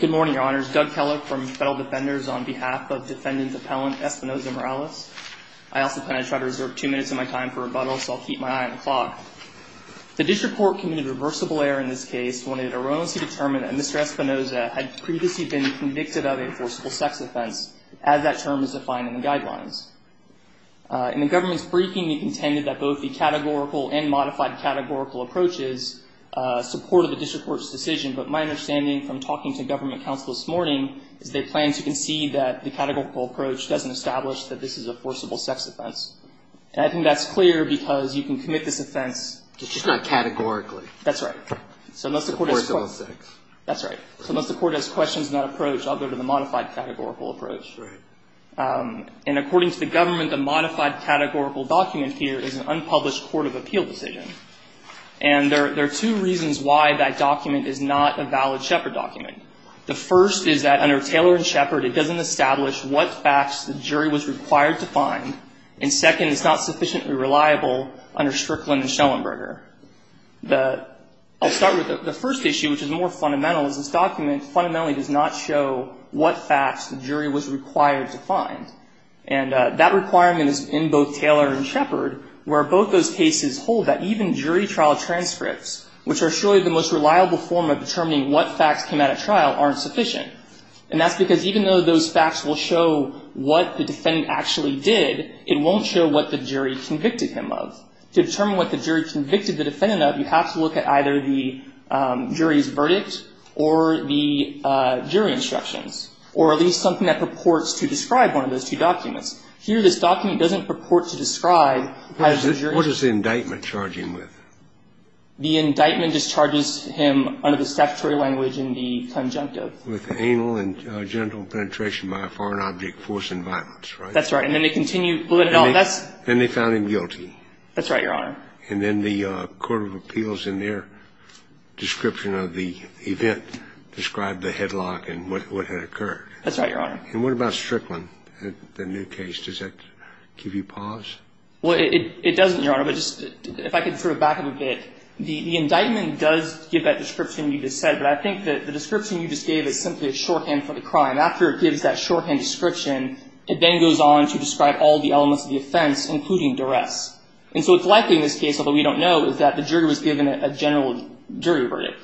Good morning, Your Honors. Doug Kellock from Federal Defenders on behalf of Defendant Appellant Espinoza-Morales. I also plan to try to reserve two minutes of my time for rebuttal, so I'll keep my eye on the clock. The district court committed reversible error in this case when it erroneously determined that Mr. Espinoza had previously been convicted of a forcible sex offense, as that term is defined in the guidelines. In the government's briefing, we contended that both the categorical and modified categorical approaches supported the district court's decision, but my understanding from talking to government counsel this morning is they plan to concede that the categorical approach doesn't establish that this is a forcible sex offense. And I think that's clear because you can commit this offense. It's just not categorically. That's right. So unless the court has questions in that approach, I'll go to the modified categorical approach. And according to the government, the modified categorical document here is an unpublished court of appeal decision. And there are two reasons why that document is not a valid Shepard document. The first is that under Taylor and Shepard, it doesn't establish what facts the jury was required to find. And second, it's not sufficiently reliable under Strickland and Schellenberger. I'll start with the first issue, which is more fundamental, is this document fundamentally does not show what facts the jury was required to find. And that requirement is in both Taylor and Shepard, where both those cases hold that even jury trial transcripts, which are surely the most reliable form of determining what facts came out at trial, aren't sufficient. And that's because even though those facts will show what the defendant actually did, it won't show what the jury convicted him of. To determine what the jury convicted the defendant of, you have to look at either the jury's verdict or the jury instructions, or at least something that purports to describe one of those two documents. Here, this document doesn't purport to describe how the jury was convicted. What does the indictment charge him with? The indictment discharges him under the statutory language in the conjunctive. With anal and genital penetration by a foreign object forcing violence, right? That's right. And then they continue to put it on. Then they found him guilty. That's right, Your Honor. And then the court of appeals in their description of the event described the headlock and what had occurred. That's right, Your Honor. And what about Strickland, the new case? Does that give you pause? Well, it doesn't, Your Honor. But just if I could sort of back up a bit, the indictment does give that description you just said. But I think that the description you just gave is simply a shorthand for the crime. After it gives that shorthand description, it then goes on to describe all the elements of the offense, including duress. And so it's likely in this case, although we don't know, is that the jury was given a general jury verdict.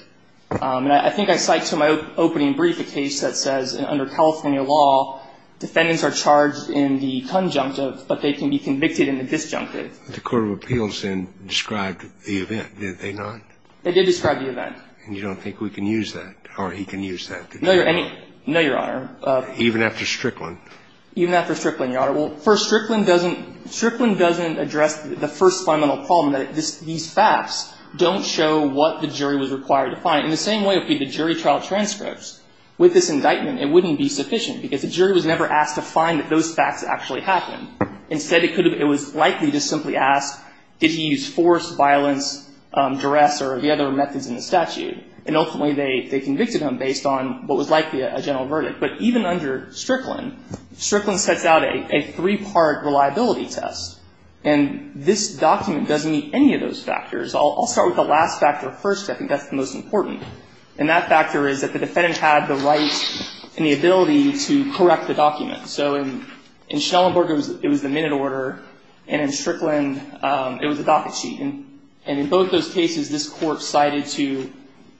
And I think I cite to my opening brief a case that says under California law, defendants are charged in the conjunctive, but they can be convicted in the disjunctive. The court of appeals then described the event, did they not? They did describe the event. And you don't think we can use that, or he can use that? No, Your Honor. Even after Strickland? Even after Strickland, Your Honor. Well, for Strickland, doesn't ‑‑ Strickland doesn't address the first fundamental problem, that these facts don't show what the jury was required to find. In the same way, if we had the jury trial transcripts, with this indictment, it wouldn't be sufficient, because the jury was never asked to find that those facts actually happened. Instead, it was likely to simply ask, did he use force, violence, duress, or the other methods in the statute? And ultimately, they convicted him based on what was likely a general verdict. But even under Strickland, Strickland sets out a three‑part reliability test. And this document doesn't meet any of those factors. I'll start with the last factor first. I think that's the most important. And that factor is that the defendant had the right and the ability to correct the document. So in Schellenberger, it was the minute order, and in Strickland, it was the docket sheet. And in both those cases, this court cited to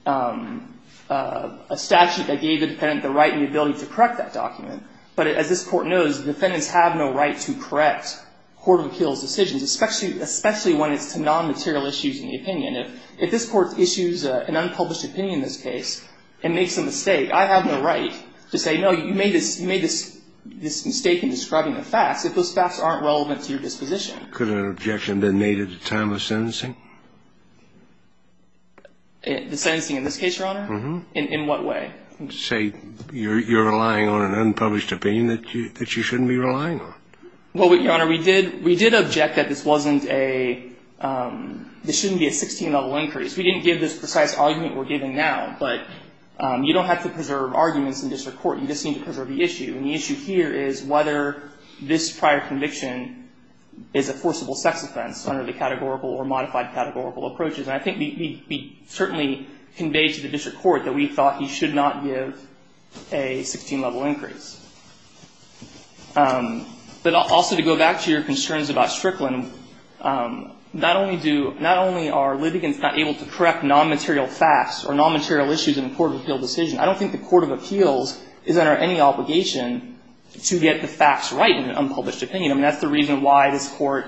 a statute that gave the defendant the right and the ability to correct that document. But as this Court knows, defendants have no right to correct court of appeals decisions, especially when it's to nonmaterial issues in the opinion. If this Court issues an unpublished opinion in this case and makes a mistake, I have no right to say, no, you made this mistake in describing the facts, if those facts aren't relevant to your disposition. Could an objection have been made at the time of sentencing? The sentencing in this case, Your Honor? Uh‑huh. In what way? Say you're relying on an unpublished opinion that you shouldn't be relying on. Well, Your Honor, we did object that this wasn't a ‑‑ this shouldn't be a 16-level increase. We didn't give this precise argument we're giving now. But you don't have to preserve arguments in district court. You just need to preserve the issue. And the issue here is whether this prior conviction is a forcible sex offense under the categorical or modified categorical approaches. And I think we certainly conveyed to the district court that we thought you should not give a 16-level increase. But also to go back to your concerns about Strickland, not only do ‑‑ not only are litigants not able to correct nonmaterial facts or nonmaterial issues in a court of appeal decision, I don't think the court of appeals is under any obligation to get the facts right in an unpublished opinion. I mean, that's the reason why this court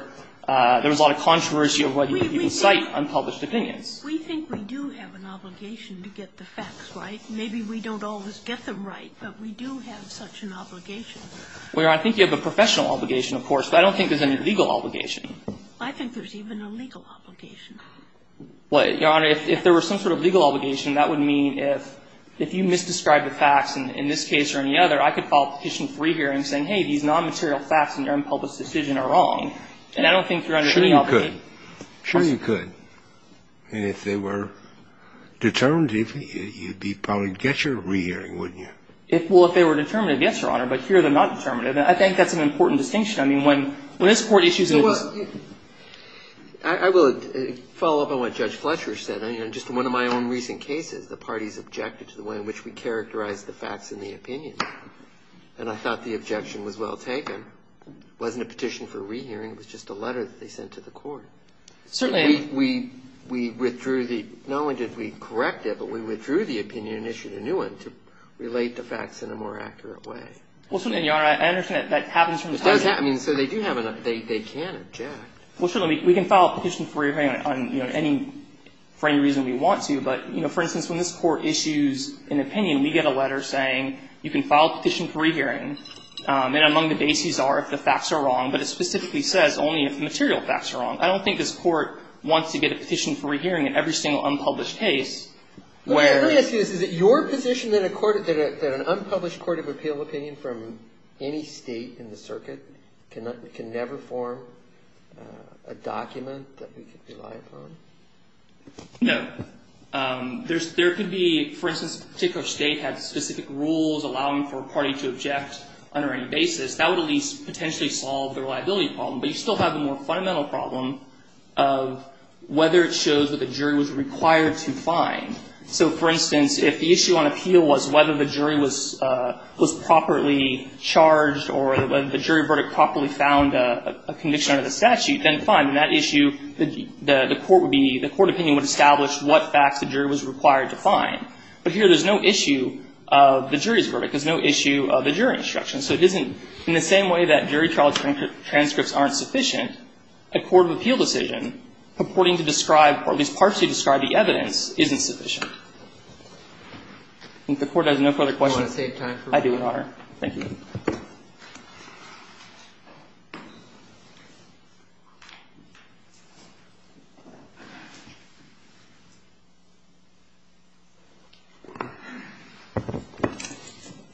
‑‑ there was a lot of controversy of whether you can cite unpublished opinions. We think we do have an obligation to get the facts right. Maybe we don't always get them right, but we do have such an obligation. Well, Your Honor, I think you have a professional obligation, of course, but I don't think there's any legal obligation. I think there's even a legal obligation. Well, Your Honor, if there were some sort of legal obligation, that would mean if you misdescribe the facts in this case or any other, I could file a petition for rehearing saying, hey, these nonmaterial facts in your unpublished decision are wrong. And I don't think you're under any obligation. Sure you could. Sure you could. And if they were determinative, you'd probably get your rehearing, wouldn't you? Well, if they were determinative, yes, Your Honor. But here they're not determinative. And I think that's an important distinction. I mean, when this court issues a ‑‑ Well, I will follow up on what Judge Fletcher said. You know, just in one of my own recent cases, the parties objected to the way in which we characterized the facts in the opinion. And I thought the objection was well taken. It wasn't a petition for rehearing. It was just a letter that they sent to the court. Certainly. We withdrew the ‑‑ not only did we correct it, but we withdrew the opinion and issued a new one to relate the facts in a more accurate way. Well, certainly, Your Honor. I understand that that happens from the ‑‑ It does happen. So they do have an ‑‑ they can object. Well, certainly, we can file a petition for rehearing on, you know, any ‑‑ for any reason we want to. But, you know, for instance, when this court issues an opinion, we get a letter saying you can file a petition for rehearing. And among the bases are if the facts are wrong. But it specifically says only if the material facts are wrong. I don't think this court wants to get a petition for rehearing in every single unpublished case where ‑‑ Let me ask you this. Is it your position that a court ‑‑ that an unpublished court of appeal opinion from any state in the circuit can never form a document that we can rely upon? No. There could be, for instance, a particular state had specific rules allowing for a party to object under any basis. That would at least potentially solve the reliability problem. But you still have a more fundamental problem of whether it shows what the jury was required to find. So, for instance, if the issue on appeal was whether the jury was properly charged or whether the jury verdict properly found a conviction under the statute, then fine. In that issue, the court would be ‑‑ the court opinion would establish what facts the jury was required to find. But here there's no issue of the jury's verdict. There's no issue of the jury instruction. So it isn't ‑‑ in the same way that jury trial transcripts aren't sufficient, a court of appeal decision purporting to describe, or at least partially describe the evidence isn't sufficient. I think the Court has no further questions. Do you want to save time for one more? I do, Your Honor. Thank you.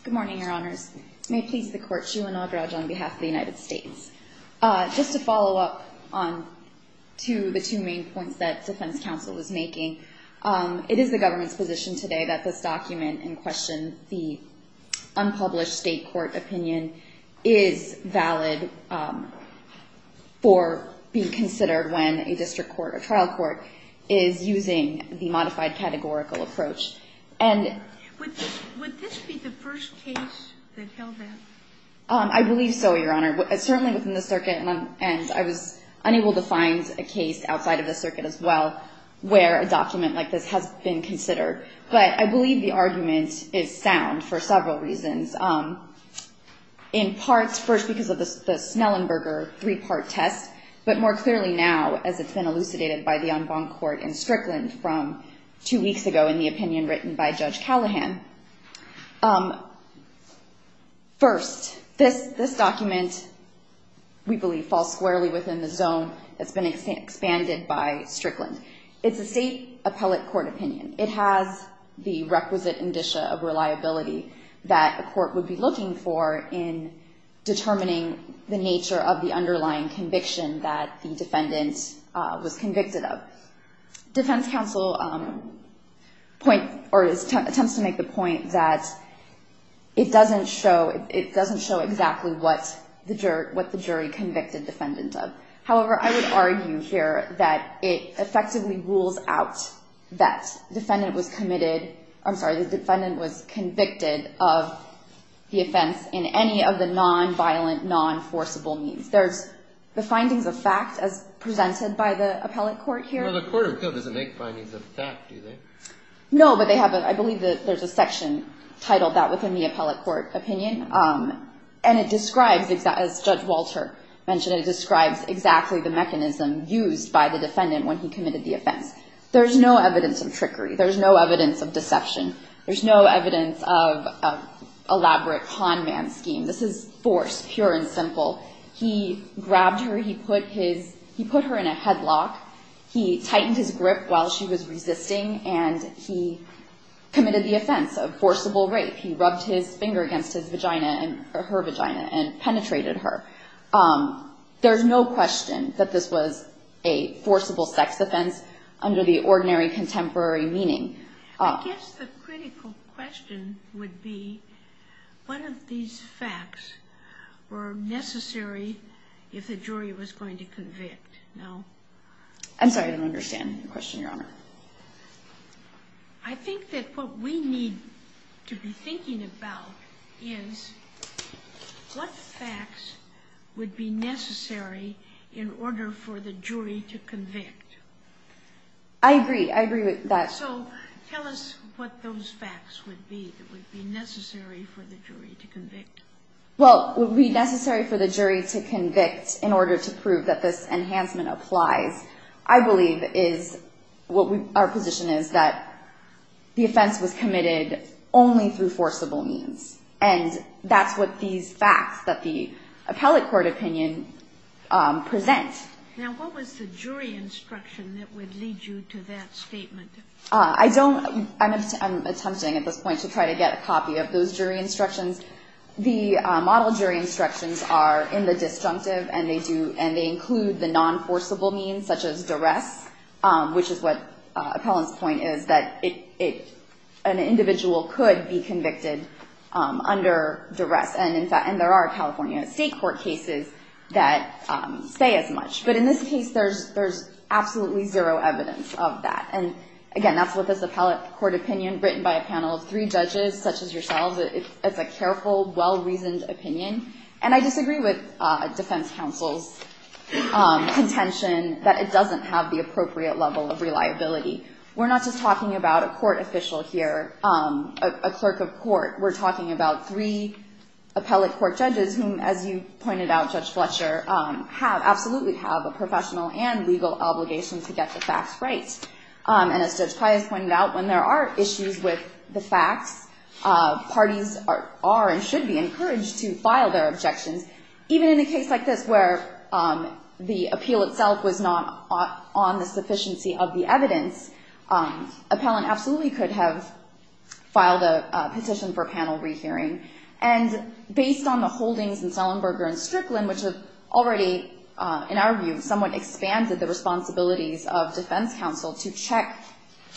Good morning, Your Honors. May it please the Court. Sheila Nagaraj on behalf of the United States. Just to follow up on two of the two main points that defense counsel was making. It is the government's position today that this document in question, the unpublished state court opinion, is valid for being considered when a district court or trial court is using the modified categorical approach. And ‑‑ Would this be the first case that held that? I believe so, Your Honor. Certainly within the circuit, and I was unable to find a case outside of the circuit as well where a document like this has been considered. But I believe the argument is sound for several reasons. In parts, first because of the Snellenberger three‑part test, but more clearly now as it's been elucidated by the en banc court in Strickland from two weeks ago in the opinion written by Judge Callahan. First, this document, we believe, falls squarely within the zone that's been expanded by Strickland. It's a state appellate court opinion. It has the requisite indicia of reliability that a court would be looking for in determining the nature of the underlying conviction that the defendant was convicted of. The defense counsel point ‑‑ or tends to make the point that it doesn't show ‑‑ it doesn't show exactly what the jury convicted defendant of. However, I would argue here that it effectively rules out that defendant was committed ‑‑ I'm sorry, the defendant was convicted of the offense in any of the non‑violent, non‑forcible means. There's the findings of fact as presented by the appellate court here. No, but I believe there's a section titled that within the appellate court opinion. And it describes, as Judge Walter mentioned, it describes exactly the mechanism used by the defendant when he committed the offense. There's no evidence of trickery. There's no evidence of deception. There's no evidence of elaborate con man scheme. This is force, pure and simple. He grabbed her. He put her in a headlock. He tightened his grip while she was resisting. And he committed the offense of forcible rape. He rubbed his finger against her vagina and penetrated her. There's no question that this was a forcible sex offense under the ordinary contemporary meaning. I guess the critical question would be one of these facts were necessary if the jury was going to convict. I'm sorry, I didn't understand your question, Your Honor. I think that what we need to be thinking about is what facts would be necessary in order for the jury to convict. I agree. So tell us what those facts would be that would be necessary for the jury to convict. Well, would be necessary for the jury to convict in order to prove that this enhancement applies. I believe is what our position is that the offense was committed only through forcible means. And that's what these facts that the appellate court opinion presents. Now, what was the jury instruction that would lead you to that statement? I don't. I'm attempting at this point to try to get a copy of those jury instructions. The model jury instructions are in the disjunctive, and they include the non-forcible means such as duress, which is what appellant's point is, that an individual could be convicted under duress. And there are California state court cases that say as much. But in this case, there's absolutely zero evidence of that. And again, that's what this appellate court opinion written by a panel of three judges such as yourselves. It's a careful, well-reasoned opinion. And I disagree with defense counsel's contention that it doesn't have the appropriate level of reliability. We're not just talking about a court official here, a clerk of court. We're talking about three appellate court judges whom, as you pointed out, Judge Fletcher, absolutely have a professional and legal obligation to get the facts right. And as Judge Pius pointed out, when there are issues with the facts, parties are and should be encouraged to file their objections. Even in a case like this where the appeal itself was not on the sufficiency of the evidence, appellant absolutely could have filed a petition for panel rehearing. And based on the holdings in Sullenberger and Strickland, which have already, in our view, somewhat expanded the responsibilities of defense counsel to check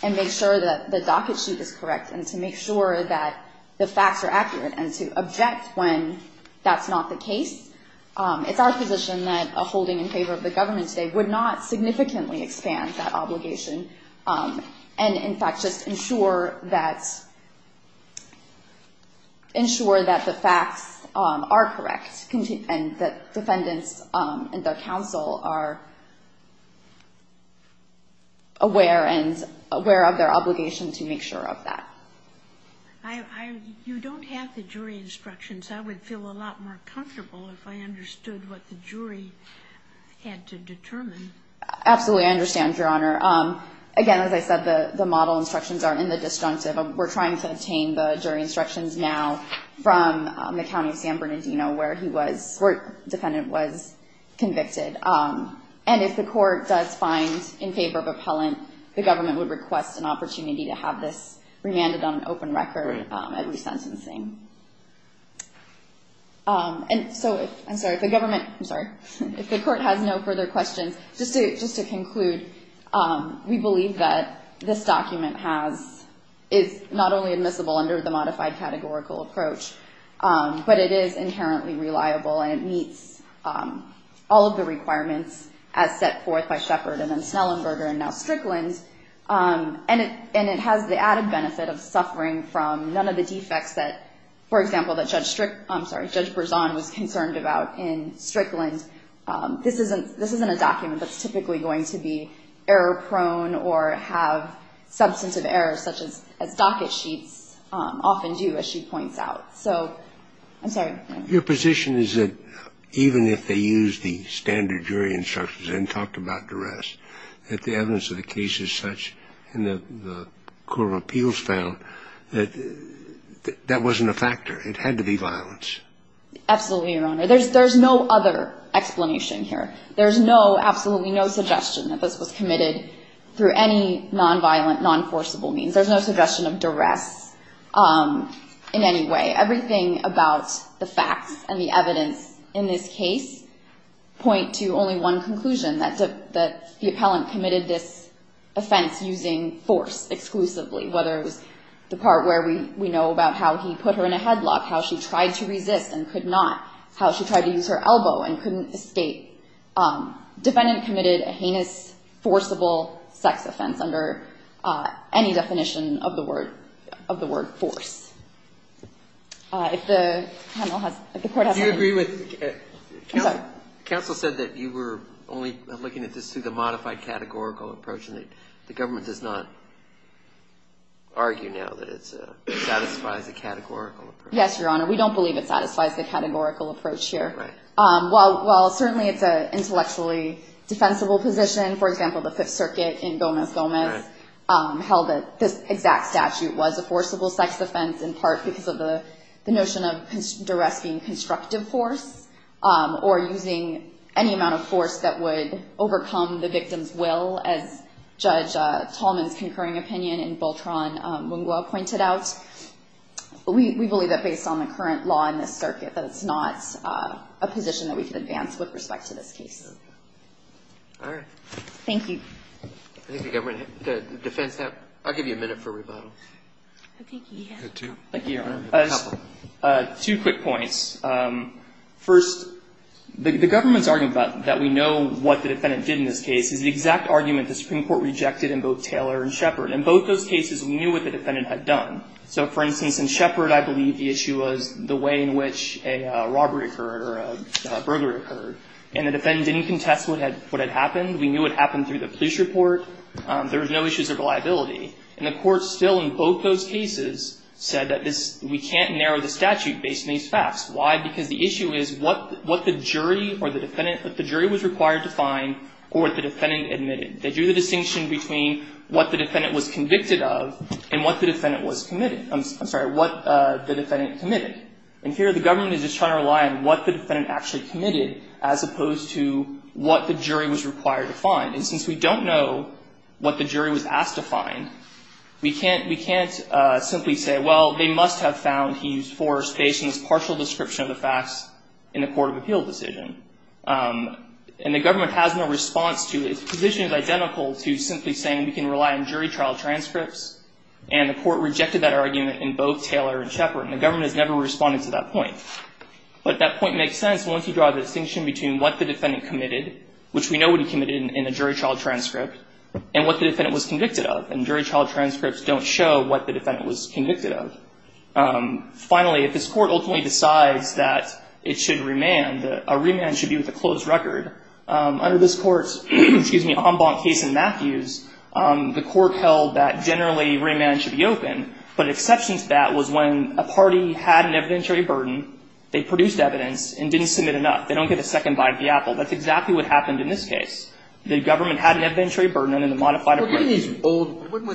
and make sure that the docket sheet is correct and to make sure that the facts are accurate and to object when that's not the case. It's our position that a holding in favor of the government today would not significantly expand that obligation and, in fact, just ensure that the facts are correct and that defendants and their counsel are aware of their obligation to make sure of that. You don't have the jury instructions. I would feel a lot more comfortable if I understood what the jury had to determine. Absolutely, I understand, Your Honor. Again, as I said, the model instructions are in the disjunctive. We're trying to obtain the jury instructions now from the County of San Bernardino where the defendant was convicted. And if the court does find in favor of appellant, the government would request an opportunity to have this remanded on an open record at resentencing. And so if the government, I'm sorry, if the court has no further questions, just to conclude, we believe that this document is not only admissible under the modified categorical approach, but it is inherently reliable and it meets all of the requirements as set forth by Sheppard and then Snellenberger and now Strickland. And it has the added benefit of suffering from none of the defects that, for example, that Judge Brisson was concerned about in Strickland. This isn't a document that's typically going to be error-prone or have substantive errors such as docket sheets often do, as she points out. So I'm sorry. Your position is that even if they used the standard jury instructions and talked about duress, that the evidence of the case is such and the court of appeals found that that wasn't a factor. It had to be violence. Absolutely, Your Honor. There's no other explanation here. There's no, absolutely no suggestion that this was committed through any non-violent, non-forcible means. There's no suggestion of duress in any way. Everything about the facts and the evidence in this case point to only one conclusion, that the appellant committed this offense using force exclusively, whether it was the part where we know about how he put her in a headlock, how she tried to resist and could not, how she tried to use her elbow and couldn't escape. Defendant committed a heinous, forcible sex offense under any definition of the word force. If the panel has, if the court has any. Counsel said that you were only looking at this through the modified categorical approach and that the government does not argue now that it satisfies the categorical approach. Yes, Your Honor, we don't believe it satisfies the categorical approach here. While certainly it's an intellectually defensible position, for example, the Fifth Circuit in Gomez Gomez held that this exact statute was a forcible sex offense in part because of the notion of using force or using any amount of force that would overcome the victim's will, as Judge Tallman's concurring opinion in Beltran-Mungua pointed out. We believe that based on the current law in this circuit that it's not a position that we can advance with respect to this case. Thank you. I think the government, the defense have, I'll give you a minute for rebuttal. Thank you, Your Honor. Two quick points. First, the government's argument that we know what the defendant did in this case is the exact argument the Supreme Court rejected in both Taylor and Shepard. In both those cases, we knew what the defendant had done. So, for instance, in Shepard, I believe the issue was the way in which a robbery occurred or a police report, there was no issues of reliability. And the court still in both those cases said that this, we can't narrow the statute based on these facts. Why? Because the issue is what the jury or the defendant, what the jury was required to find or what the defendant admitted. They drew the distinction between what the defendant was convicted of and what the defendant was committed. I'm sorry, what the defendant committed. And here the government is just trying to rely on what the defendant actually committed as opposed to what the jury was required to find. And since we don't know what the jury was asked to find, we can't simply say, well, they must have found he used force based on this partial description of the facts in the court of appeal decision. And the government has no response to it. The position is identical to simply saying we can rely on jury trial transcripts. And the court rejected that argument in both Taylor and Shepard. And the government has never responded to that point. But that point makes sense once you draw the distinction between what the defendant committed, which we know what he committed in the jury trial transcript, and what the defendant was convicted of. And jury trial transcripts don't show what the defendant was convicted of. Finally, if this Court ultimately decides that it should remand, a remand should be with a closed record. Under this Court's, excuse me, en banc case in Matthews, the Court held that generally remand should be open. But an exception to that was when a party had an evidentiary burden, they produced evidence and didn't submit enough. They don't get a second bite of the apple. That's exactly what happened in this case. The government had an evidentiary burden under the modified appraisal. When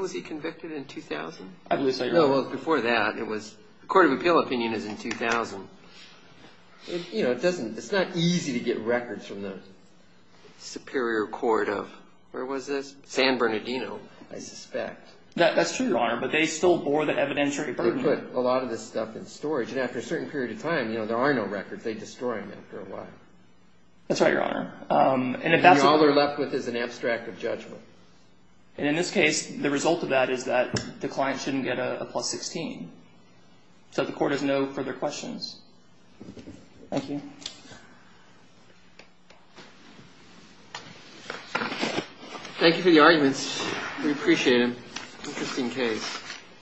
was he convicted? In 2000? I believe so, Your Honor. No, before that. The court of appeal opinion is in 2000. You know, it's not easy to get records from the superior court of, where was this? San Bernardino, I suspect. That's true, Your Honor. But they still bore the evidentiary burden. They put a lot of this stuff in storage. And after a certain period of time, you know, there are no records. They destroy them after a while. That's right, Your Honor. And all they're left with is an abstract of judgment. And in this case, the result of that is that the client shouldn't get a plus 16. So the Court has no further questions. Thank you. Thank you for the arguments. We appreciate them. Interesting case.